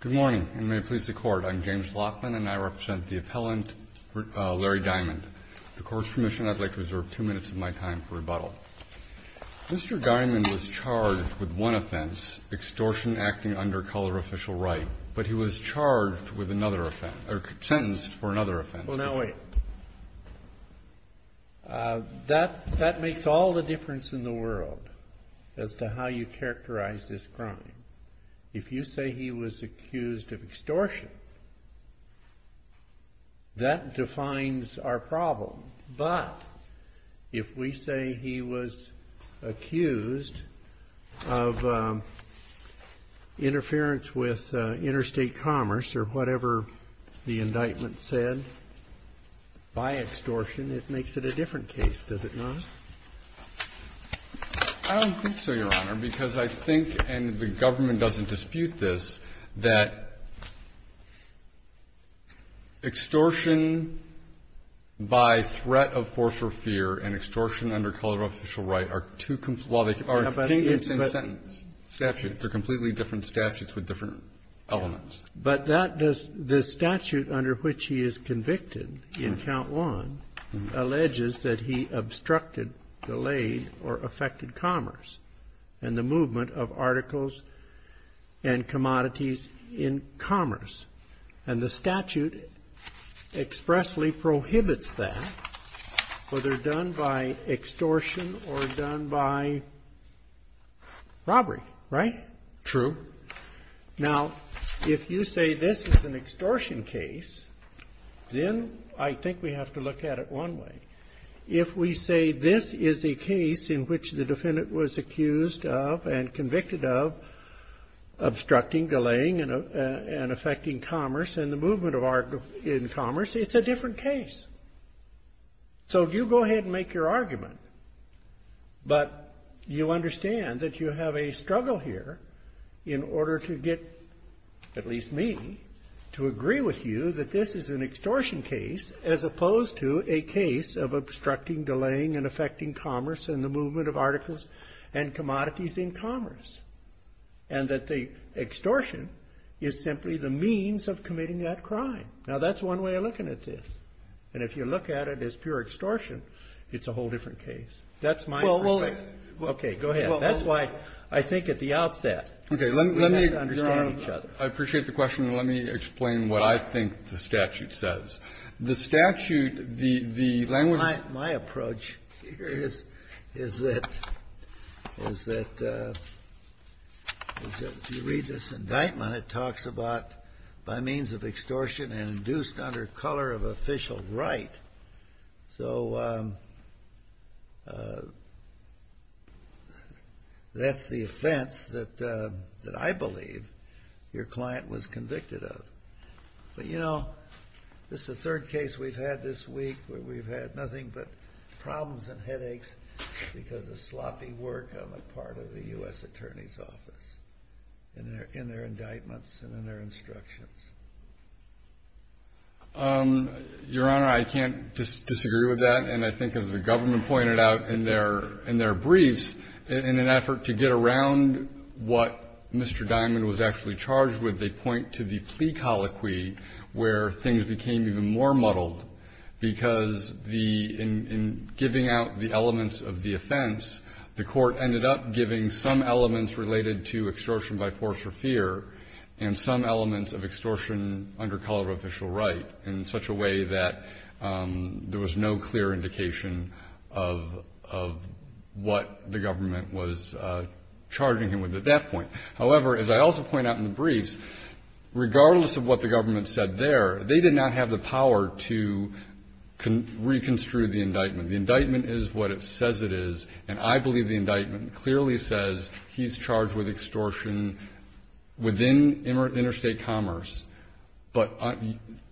Good morning, and may it please the Court, I'm James Laughlin, and I represent the appellant Larry Diamond. At the Court's permission, I'd like to reserve two minutes of my time for rebuttal. Mr. Diamond was charged with one offense, extortion acting under color official right, but he was charged with another offense, or sentenced for another offense. Well, now wait. That makes all the difference in the world as to how you characterize this crime. If you say he was accused of extortion, that defines our problem. But if we say he was accused of interference with interstate commerce or whatever the indictment said by extortion, it makes it a different case, does it not? I don't think so, Your Honor, because I think, and the government doesn't dispute this, that extortion by threat of force or fear and extortion under color official right are two completely different statutes. They're completely different statutes with different elements. But the statute under which he is convicted in Count 1 alleges that he obstructed, delayed, or affected commerce and the movement of articles and commodities in commerce. And the statute expressly prohibits that, whether done by extortion or done by robbery, right? True. Now, if you say this is an extortion case, then I think we have to look at it one way. If we say this is a case in which the defendant was accused of and convicted of obstructing, delaying, and affecting commerce and the movement of articles in commerce, it's a different case. So you go ahead and make your argument. But you understand that you have a struggle here in order to get at least me to agree with you that this is an extortion case as opposed to a case of obstructing, delaying, and affecting commerce and the movement of articles and commodities in commerce, and that the extortion is simply the means of committing that crime. Now, that's one way of looking at this. And if you look at it as pure extortion, it's a whole different case. That's my opinion. Okay. Go ahead. That's why I think at the outset we have to understand each other. I appreciate the question. And let me explain what I think the statute says. The statute, the language of the statute is that if you read this indictment, it talks about by means of extortion and induced under color of official right. So that's the offense that I believe your client was convicted of. But, you know, this is the third case we've had this week where we've had nothing but problems and headaches because of sloppy work on the part of the U.S. Attorney's Office in their indictments and in their instructions. Your Honor, I can't disagree with that. And I think as the government pointed out in their briefs, in an effort to get around what Mr. Diamond was actually charged with, they point to the plea colloquy where things became even more muddled because in giving out the elements of the offense, the court ended up giving some elements related to extortion by force or fear and some elements of extortion under color of official right in such a way that there was no clear indication of what the government was charging him with at that point. However, as I also point out in the briefs, regardless of what the government said there, they did not have the power to reconstrue the indictment. The indictment is what it says it is, and I believe the indictment clearly says he's charged with extortion within interstate commerce but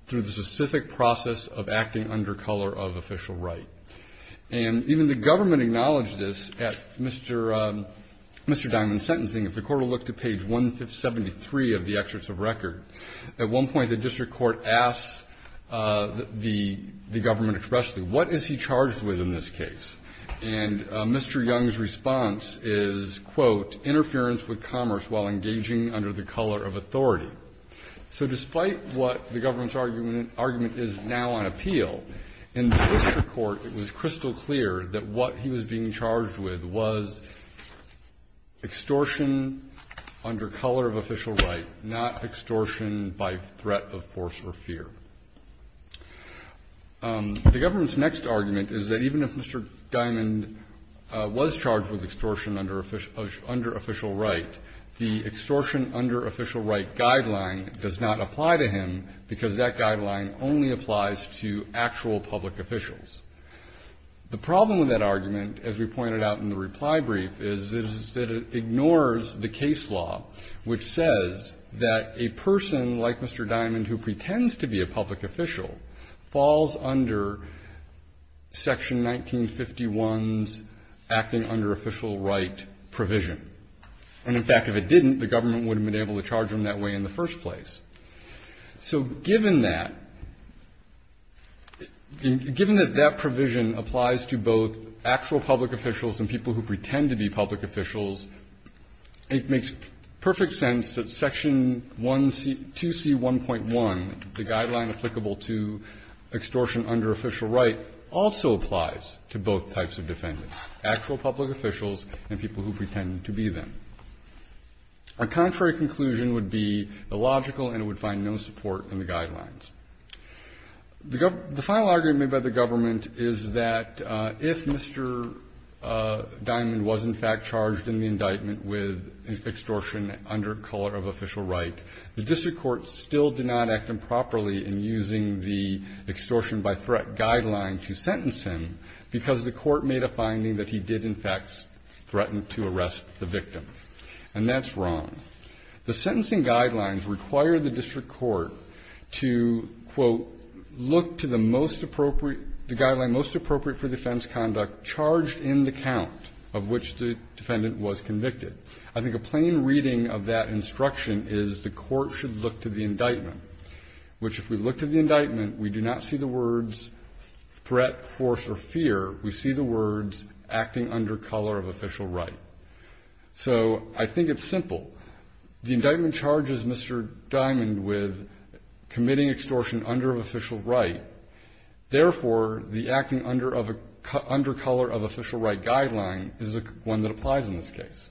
through the specific process of acting under color of official right. And even the government acknowledged this at Mr. Diamond's sentencing. If the court will look to page 173 of the excerpts of record, at one point the district court asks the government expressly, what is he charged with in this case? And Mr. Young's response is, quote, interference with commerce while engaging under the color of authority. So despite what the government's argument is now on appeal, in the district court it was crystal clear that what he was being charged with was extortion under color of official right, not extortion by threat of force or fear. The government's next argument is that even if Mr. Diamond was charged with extortion under official right, the extortion under official right guideline does not apply to him because that guideline only applies to actual public officials. The problem with that argument, as we pointed out in the reply brief, is that it ignores the case law which says that a person like Mr. Diamond who pretends to be a public official falls under Section 1951's acting under official right provision. And, in fact, if it didn't, the government wouldn't have been able to charge him that way in the first place. So given that, given that that provision applies to both actual public officials and people who pretend to be public officials, it makes perfect sense that Section 2C1.1, the guideline applicable to extortion under official right, also applies to both types of defendants, actual public officials and people who pretend to be them. A contrary conclusion would be illogical and it would find no support in the guidelines. The final argument made by the government is that if Mr. Diamond was, in fact, charged in the indictment with extortion under color of official right, the district court still did not act improperly in using the extortion by threat guideline to sentence him because the court made a finding that he did, in fact, threaten to arrest the victim. And that's wrong. The sentencing guidelines require the district court to, quote, look to the most appropriate, the guideline most appropriate for defense conduct charged in the count of which the defendant was convicted. I think a plain reading of that instruction is the court should look to the indictment, which if we look to the indictment, we do not see the words threat, force, or fear. We see the words acting under color of official right. So I think it's simple. The indictment charges Mr. Diamond with committing extortion under official right. Therefore, the acting under color of official right guideline is one that applies in this case.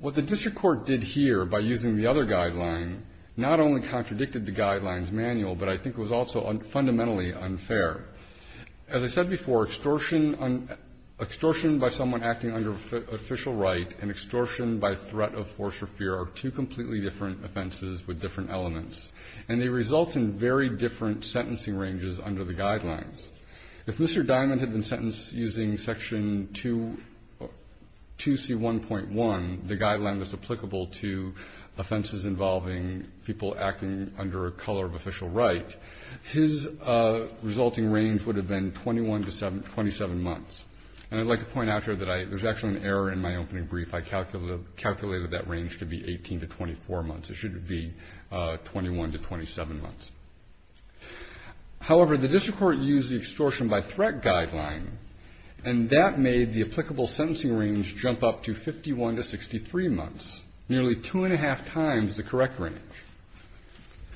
What the district court did here by using the other guideline not only contradicted the guidelines manual, but I think it was also fundamentally unfair. As I said before, extortion by someone acting under official right and extortion by threat of force or fear are two completely different offenses with different elements, and they result in very different sentencing ranges under the guidelines. If Mr. Diamond had been sentenced using section 2C1.1, the guideline that's applicable to offenses involving people acting under a color of official right, his resulting range would have been 21 to 27 months. And I'd like to point out here that there's actually an error in my opening brief. I calculated that range to be 18 to 24 months. It should be 21 to 27 months. However, the district court used the extortion by threat guideline, and that made the applicable sentencing range jump up to 51 to 63 months, nearly two and a half times the correct range.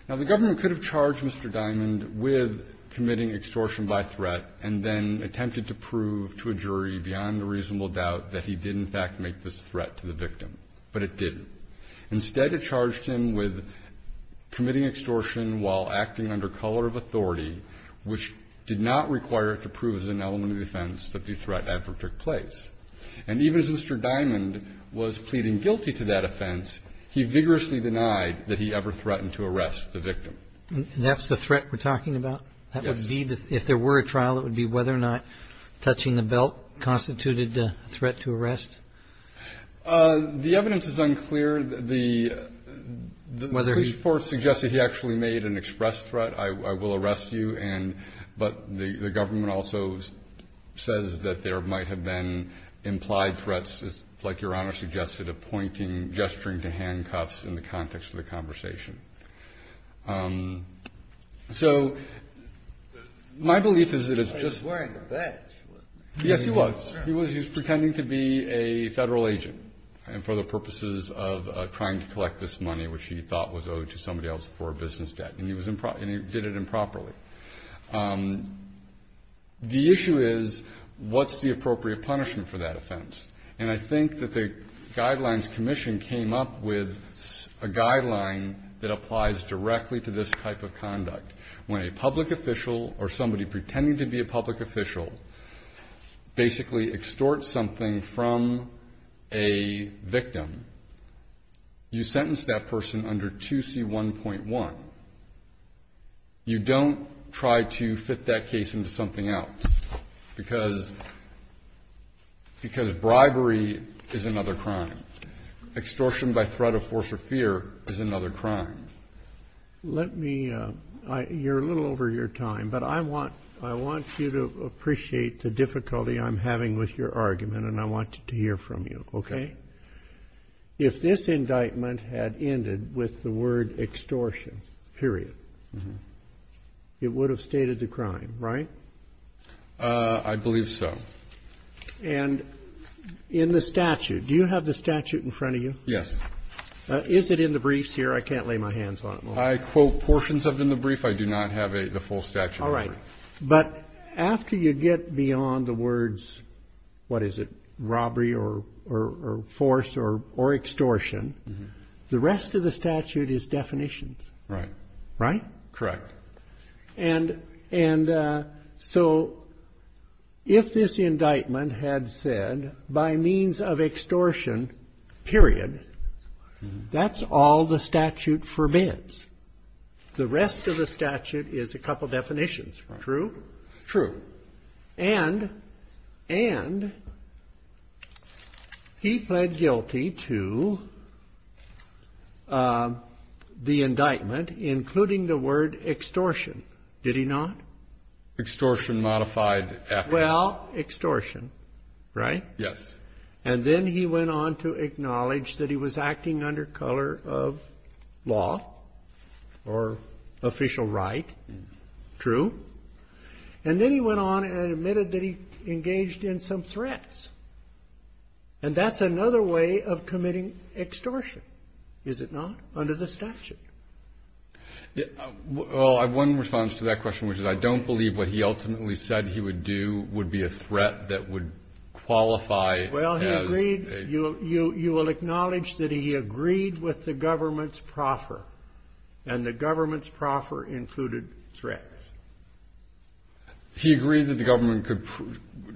Now, the government could have charged Mr. Diamond with committing extortion by threat and then attempted to prove to a jury beyond a reasonable doubt that he did in fact make this threat to the victim, but it didn't. Instead, it charged him with committing extortion while acting under color of authority, which did not require it to prove as an element of defense that the threat ever took place. And even as Mr. Diamond was pleading guilty to that offense, he vigorously denied that he ever threatened to arrest the victim. And that's the threat we're talking about? Yes. If there were a trial, it would be whether or not touching the belt constituted a threat to arrest? The evidence is unclear. The police report suggests that he actually made an express threat. I will arrest you, but the government also says that there might have been implied threats, like Your Honor suggested, of pointing, gesturing to handcuffs in the context of the conversation. So my belief is that it's just. He was wearing a badge, wasn't he? Yes, he was. He was pretending to be a Federal agent for the purposes of trying to collect this money, which he thought was owed to somebody else for a business debt, and he did it improperly. The issue is, what's the appropriate punishment for that offense? And I think that the Guidelines Commission came up with a guideline that applies directly to this type of conduct. When a public official or somebody pretending to be a public official basically extorts something from a victim, you sentence that person under 2C1.1. You don't try to fit that case into something else, because bribery is another crime. Extortion by threat of force or fear is another crime. Let me, you're a little over your time, but I want you to appreciate the difficulty I'm having with your argument, and I want to hear from you, okay? If this indictment had ended with the word extortion, period, it would have stated the crime, right? I believe so. And in the statute, do you have the statute in front of you? Yes. Is it in the briefs here? I can't lay my hands on it. I quote portions of it in the brief. I do not have the full statute. All right. But after you get beyond the words, what is it, robbery or force or extortion, the rest of the statute is definitions. Right. Correct. And so if this indictment had said by means of extortion, period, that's all the statute forbids. The rest of the statute is a couple definitions. True? True. And he pled guilty to the indictment, including the word extortion, did he not? Extortion modified. Well, extortion, right? Yes. And then he went on to acknowledge that he was acting under color of law or official right. True. And then he went on and admitted that he engaged in some threats. And that's another way of committing extortion, is it not, under the statute? Well, I have one response to that question, which is I don't believe what he ultimately said he would do would be a threat that would qualify. Well, he agreed. You will acknowledge that he agreed with the government's proffer, and the government's proffer included threats. He agreed that the government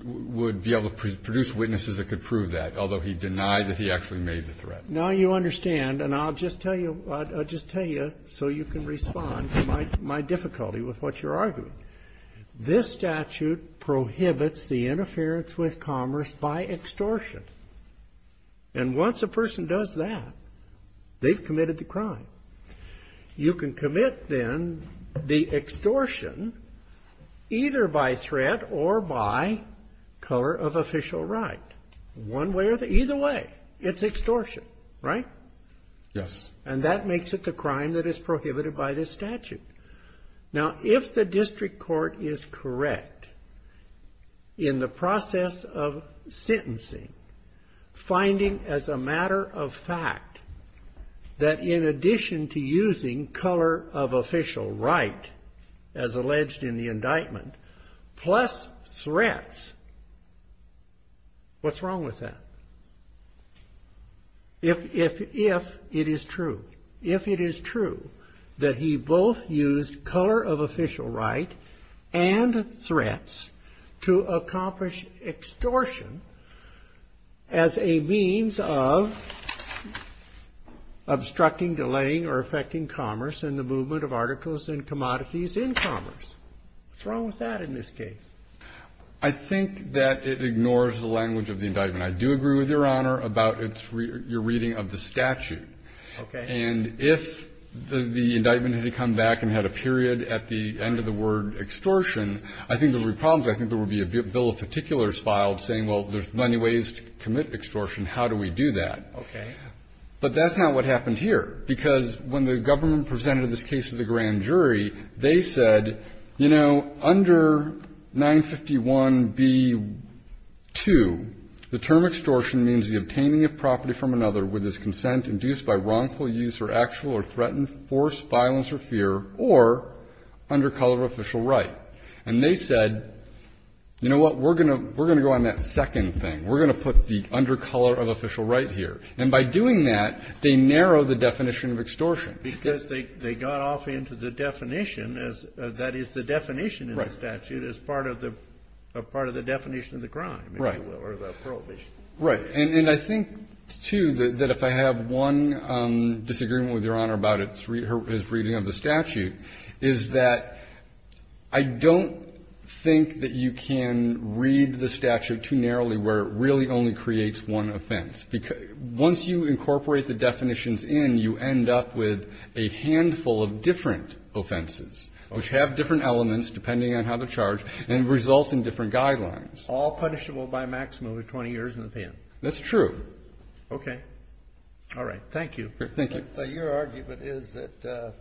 would be able to produce witnesses that could prove that, although he denied that he actually made the threat. Now you understand, and I'll just tell you so you can respond to my difficulty with what you're arguing. This statute prohibits the interference with commerce by extortion. And once a person does that, they've committed the crime. You can commit, then, the extortion either by threat or by color of official right. One way or the other. Either way, it's extortion, right? Yes. And that makes it the crime that is prohibited by this statute. Now, if the district court is correct in the process of sentencing, finding as a matter of fact that in addition to using color of official right, as alleged in the indictment, plus threats, what's wrong with that? If it is true, if it is true that he both used color of official right and threats to accomplish extortion as a means of obstructing, delaying, or affecting commerce in the movement of articles and commodities in commerce, what's wrong with that in this case? I think that it ignores the language of the indictment. I do agree with Your Honor about your reading of the statute. Okay. And if the indictment had come back and had a period at the end of the word extortion, I think there would be problems. I think there would be a bill of particulars filed saying, well, there's many ways to commit extortion. How do we do that? Okay. But that's not what happened here. Because when the government presented this case to the grand jury, they said, you know, under 951b-2, the term extortion means the obtaining of property from another with his consent induced by wrongful use or actual or threatened force, violence, or fear, or under color of official right. And they said, you know what, we're going to go on that second thing. We're going to put the under color of official right here. And by doing that, they narrow the definition of extortion. Because they got off into the definition as that is the definition in the statute as part of the definition of the crime. Right. Or the prohibition. Right. And I think, too, that if I have one disagreement with Your Honor about his reading of the statute, is that I don't think that you can read the statute too narrowly where it really only creates one offense. Once you incorporate the definitions in, you end up with a handful of different offenses, which have different elements, depending on how they're charged, and result in different guidelines. All punishable by maximum of 20 years in the pen. That's true. Okay. All right. Thank you. Thank you. Your argument is that the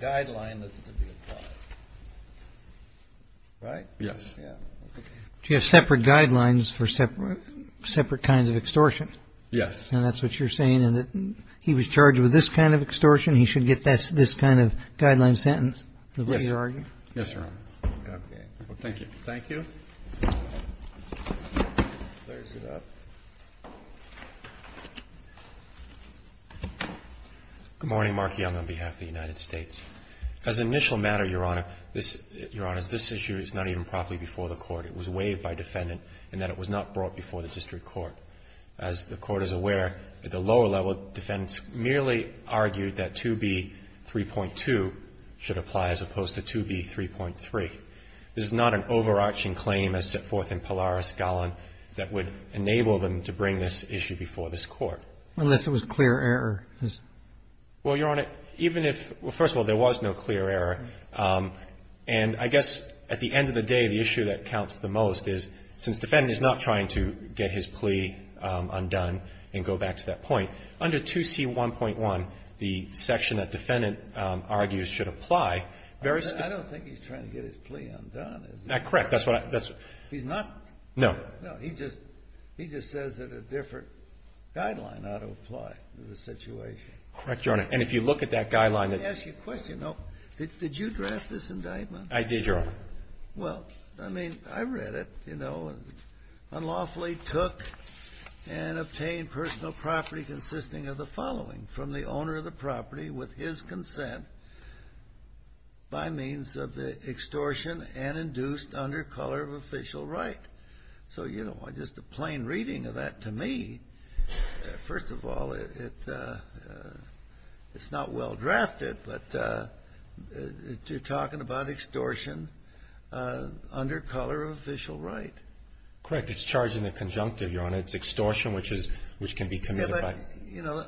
guideline is to be applied. Right? Yes. Do you have separate guidelines for separate kinds of extortion? Yes. And that's what you're saying, in that he was charged with this kind of extortion. He should get this kind of guideline sentence? Yes. Is that what you're arguing? Yes, Your Honor. Okay. Thank you. Thank you. Good morning. Mark Young on behalf of the United States. As an initial matter, Your Honor, this issue is not even properly before the Court. It was waived by defendant in that it was not brought before the district court. As the Court is aware, at the lower level, defendants merely argued that 2b. 3.2 should apply as opposed to 2b. 3.3. This is not an overarching claim as set forth in Polaris Gallan that would enable them to bring this issue before this Court. Unless it was clear error. Well, Your Honor, even if – well, first of all, there was no clear error. And I guess at the end of the day, the issue that counts the most is since defendant is not trying to get his plea undone and go back to that point, under 2c. 1.1, the section that defendant argues should apply very – I don't think he's trying to get his plea undone. Correct. That's what I – He's not – No. No. He just – he just says that a different guideline ought to apply to the situation. Correct, Your Honor. And if you look at that guideline that – Let me ask you a question. Did you draft this indictment? I did, Your Honor. Well, I mean, I read it, you know. Unlawfully took and obtained personal property consisting of the following from the owner of the property with his consent by means of the extortion and induced under color of official right. So, you know, just a plain reading of that to me, first of all, it's not well-drafted, but you're talking about extortion under color of official right. Correct. It's charged in the conjunctive, Your Honor. It's extortion, which can be committed by – You know,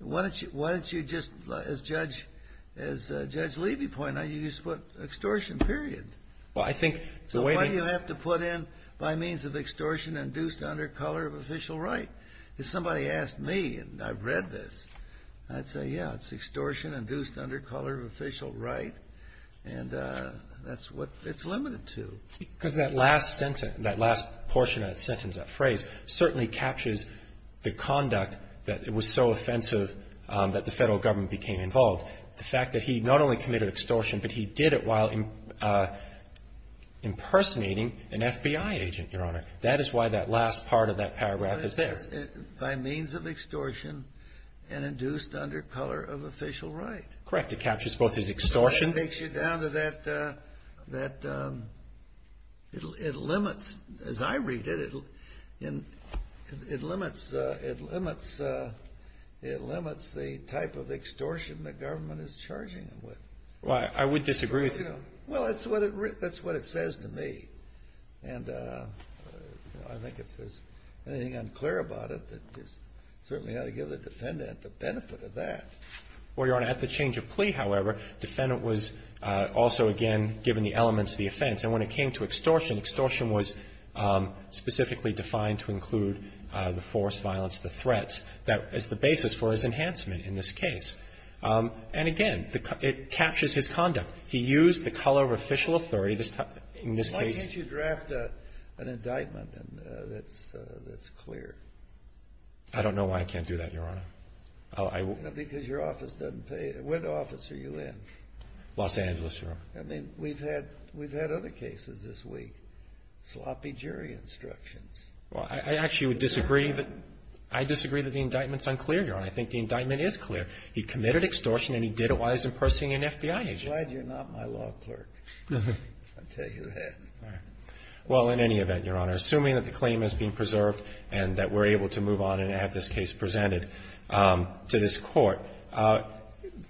why don't you just, as Judge Levy pointed out, you just put extortion, period. Well, I think the way that – So why do you have to put in by means of extortion induced under color of official right? If somebody asked me, and I've read this, I'd say, yeah, it's extortion induced under color of official right, and that's what it's limited to. Because that last portion of that sentence, that phrase, certainly captures the conduct that was so offensive that the Federal Government became involved. The fact that he not only committed extortion, but he did it while impersonating an FBI agent, Your Honor. That is why that last part of that paragraph is there. By means of extortion and induced under color of official right. Correct. It captures both his extortion. It takes you down to that – it limits, as I read it, it limits the type of extortion the government is charging him with. Well, I would disagree with you. Well, that's what it says to me. And I think if there's anything unclear about it, it's certainly how to give the defendant the benefit of that. Well, Your Honor, at the change of plea, however, defendant was also, again, given the elements of the offense. And when it came to extortion, extortion was specifically defined to include the force, violence, the threats as the basis for his enhancement in this case. And again, it captures his conduct. He used the color of official authority. In this case – Why can't you draft an indictment that's clear? I don't know why I can't do that, Your Honor. Because your office doesn't pay – what office are you in? Los Angeles, Your Honor. I mean, we've had other cases this week. Sloppy jury instructions. Well, I actually would disagree that – I disagree that the indictment's unclear, Your Honor. I think the indictment is clear. He committed extortion, and he did it while he was in person in an FBI agent. I'm glad you're not my law clerk. I'll tell you that. Well, in any event, Your Honor, assuming that the claim has been preserved and that we're able to move on and have this case presented to this court,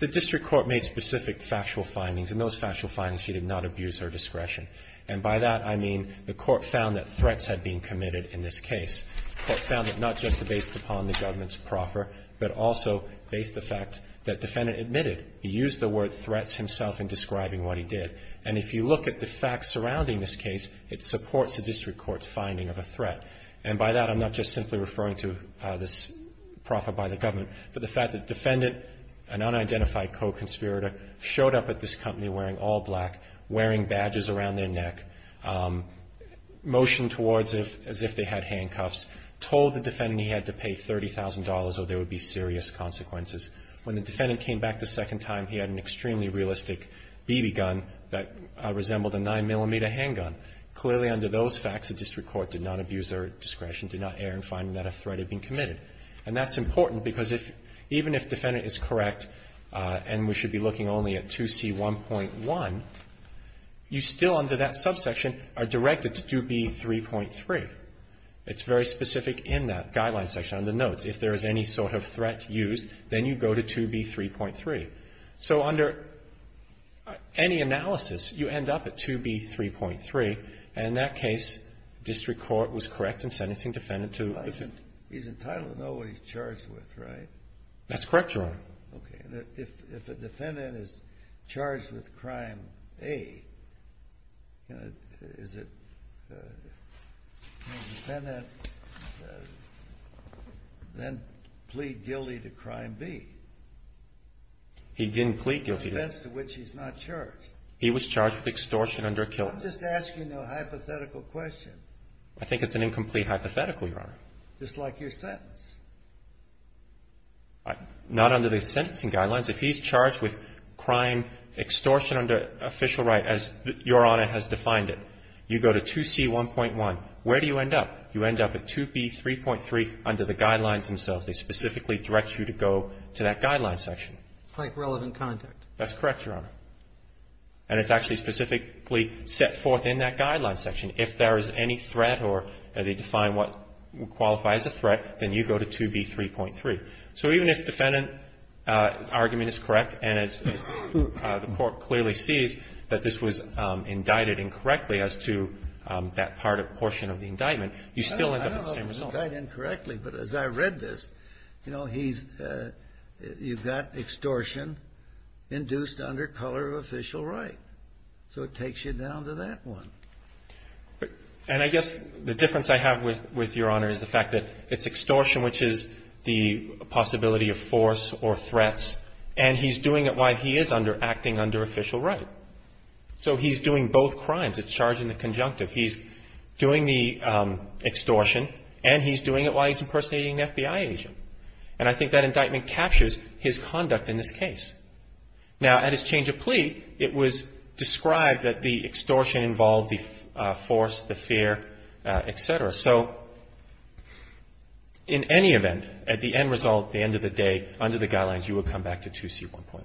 the district court made specific factual findings, and those factual findings, she did not abuse her discretion. And by that, I mean the court found that threats had been committed in this case. The court found that not just based upon the government's proffer, but also based the fact that defendant admitted, he used the word threats himself in describing what he did. And if you look at the facts surrounding this case, it supports the district court's finding of a threat. And by that, I'm not just simply referring to this proffer by the government, but the fact that defendant, an unidentified co-conspirator, showed up at this company wearing all black, wearing badges around their neck, motioned towards it as if they had handcuffs, told the defendant he had to pay $30,000 or there would be serious consequences. When the defendant came back the second time, he had an extremely realistic BB gun that resembled a 9-millimeter handgun. Clearly, under those facts, the district court did not abuse their discretion, did not err in finding that a threat had been committed. And that's important because if, even if defendant is correct, and we should be looking only at 2C1.1, you still under that subsection are directed to 2B3.3. It's very specific in that guideline section on the notes. If there is any sort of threat used, then you go to 2B3.3. So under any analysis, you end up at 2B3.3. And in that case, district court was correct in sentencing defendant to life sentence. He's entitled to know what he's charged with, right? That's correct, Your Honor. Okay. If a defendant is charged with crime A, is it defendant then plead guilty to crime B? He didn't plead guilty. The offense to which he's not charged. He was charged with extortion under a kill. I'm just asking a hypothetical question. I think it's an incomplete hypothetical, Your Honor. Just like your sentence. Not under the sentencing guidelines. If he's charged with crime extortion under official right, as Your Honor has defined it, you go to 2C1.1. Where do you end up? You end up at 2B3.3 under the guidelines themselves. They specifically direct you to go to that guideline section. Like relevant contact. That's correct, Your Honor. And it's actually specifically set forth in that guideline section. If there is any threat or they define what qualifies as a threat, then you go to 2B3.3. So even if defendant argument is correct and the court clearly sees that this was indicted incorrectly as to that part or portion of the indictment, you still end up with the same result. I think I said that incorrectly, but as I read this, you know, you've got extortion induced under color of official right. So it takes you down to that one. And I guess the difference I have with Your Honor is the fact that it's extortion, which is the possibility of force or threats, and he's doing it while he is acting under official right. So he's doing both crimes. It's charging the conjunctive. He's doing the extortion and he's doing it while he's impersonating an FBI agent. And I think that indictment captures his conduct in this case. Now, at his change of plea, it was described that the extortion involved the force, the fear, et cetera. So in any event, at the end result, the end of the day, under the guidelines, you would come back to 2C1.1.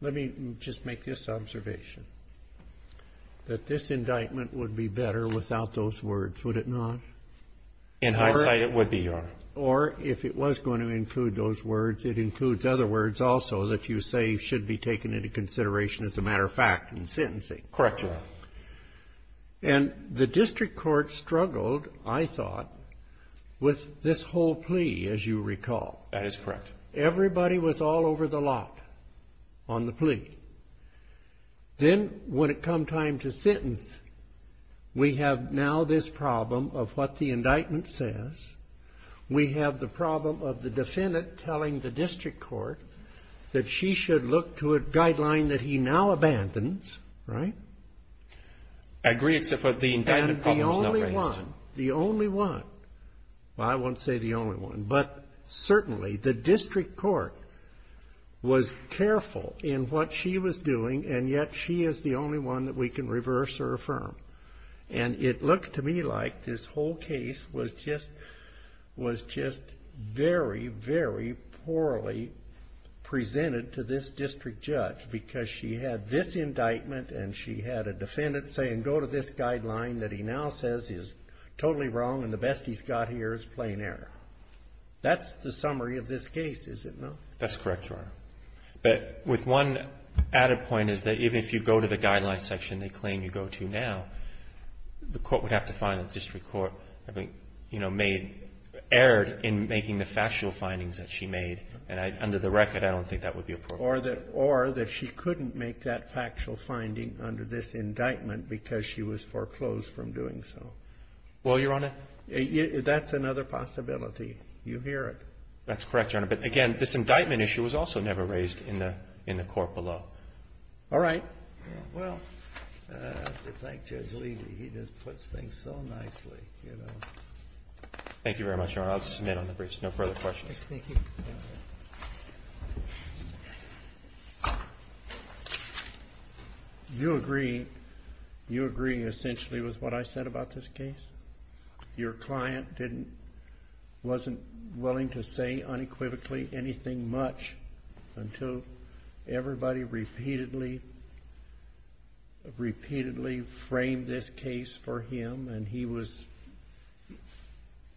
Let me just make this observation, that this indictment would be better without those words, would it not? In hindsight, it would be, Your Honor. Or if it was going to include those words, it includes other words also that you say should be taken into consideration, as a matter of fact, in sentencing. Correct, Your Honor. And the district court struggled, I thought, with this whole plea, as you recall. That is correct. Everybody was all over the lot on the plea. Then, when it come time to sentence, we have now this problem of what the indictment says. We have the problem of the defendant telling the district court that she should look to a guideline that he now abandons. Right? I agree, except for the indictment problem is not raised. The only one. Well, I won't say the only one, but certainly the district court was careful in what she was doing, and yet she is the only one that we can reverse or affirm. And it looks to me like this whole case was just very, very poorly presented to this district judge, because she had this indictment and she had a defendant saying go to this guideline that he now says is totally wrong and the best he's got here is plain error. That's the summary of this case, is it not? That's correct, Your Honor. But with one added point is that even if you go to the guideline section they claim you go to now, the court would have to find that the district court, I think, you know, made error in making the factual findings that she made. And under the record, I don't think that would be appropriate. Or that she couldn't make that factual finding under this indictment because she was foreclosed from doing so. Well, Your Honor. That's another possibility. You hear it. That's correct, Your Honor. But, again, this indictment issue was also never raised in the court below. All right. Well, I have to thank Judge Levy. He just puts things so nicely, you know. Thank you very much, Your Honor. I'll submit on the briefs. No further questions. Thank you. Thank you. You agree essentially with what I said about this case? Your client wasn't willing to say unequivocally anything much until everybody repeatedly framed this case for him. And he's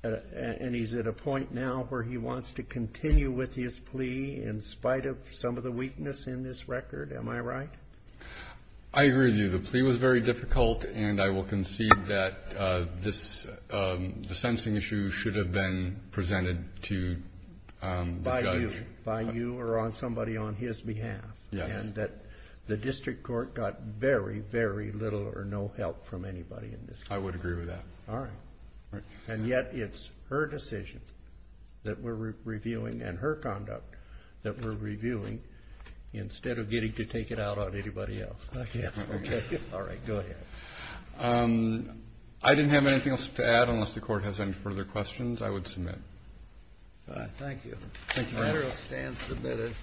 at a point now where he wants to continue with his plea in spite of some of the weakness in this record. Am I right? I agree with you. The plea was very difficult. And I will concede that the sensing issue should have been presented to the judge. By you or somebody on his behalf. Yes. And that the district court got very, very little or no help from anybody in this case. I would agree with that. All right. And yet it's her decision that we're reviewing and her conduct that we're reviewing instead of getting to take it out on anybody else. All right. Go ahead. I didn't have anything else to add unless the court has any further questions. I would submit. All right. Thank you. Thank you, Your Honor. The matter stands submitted.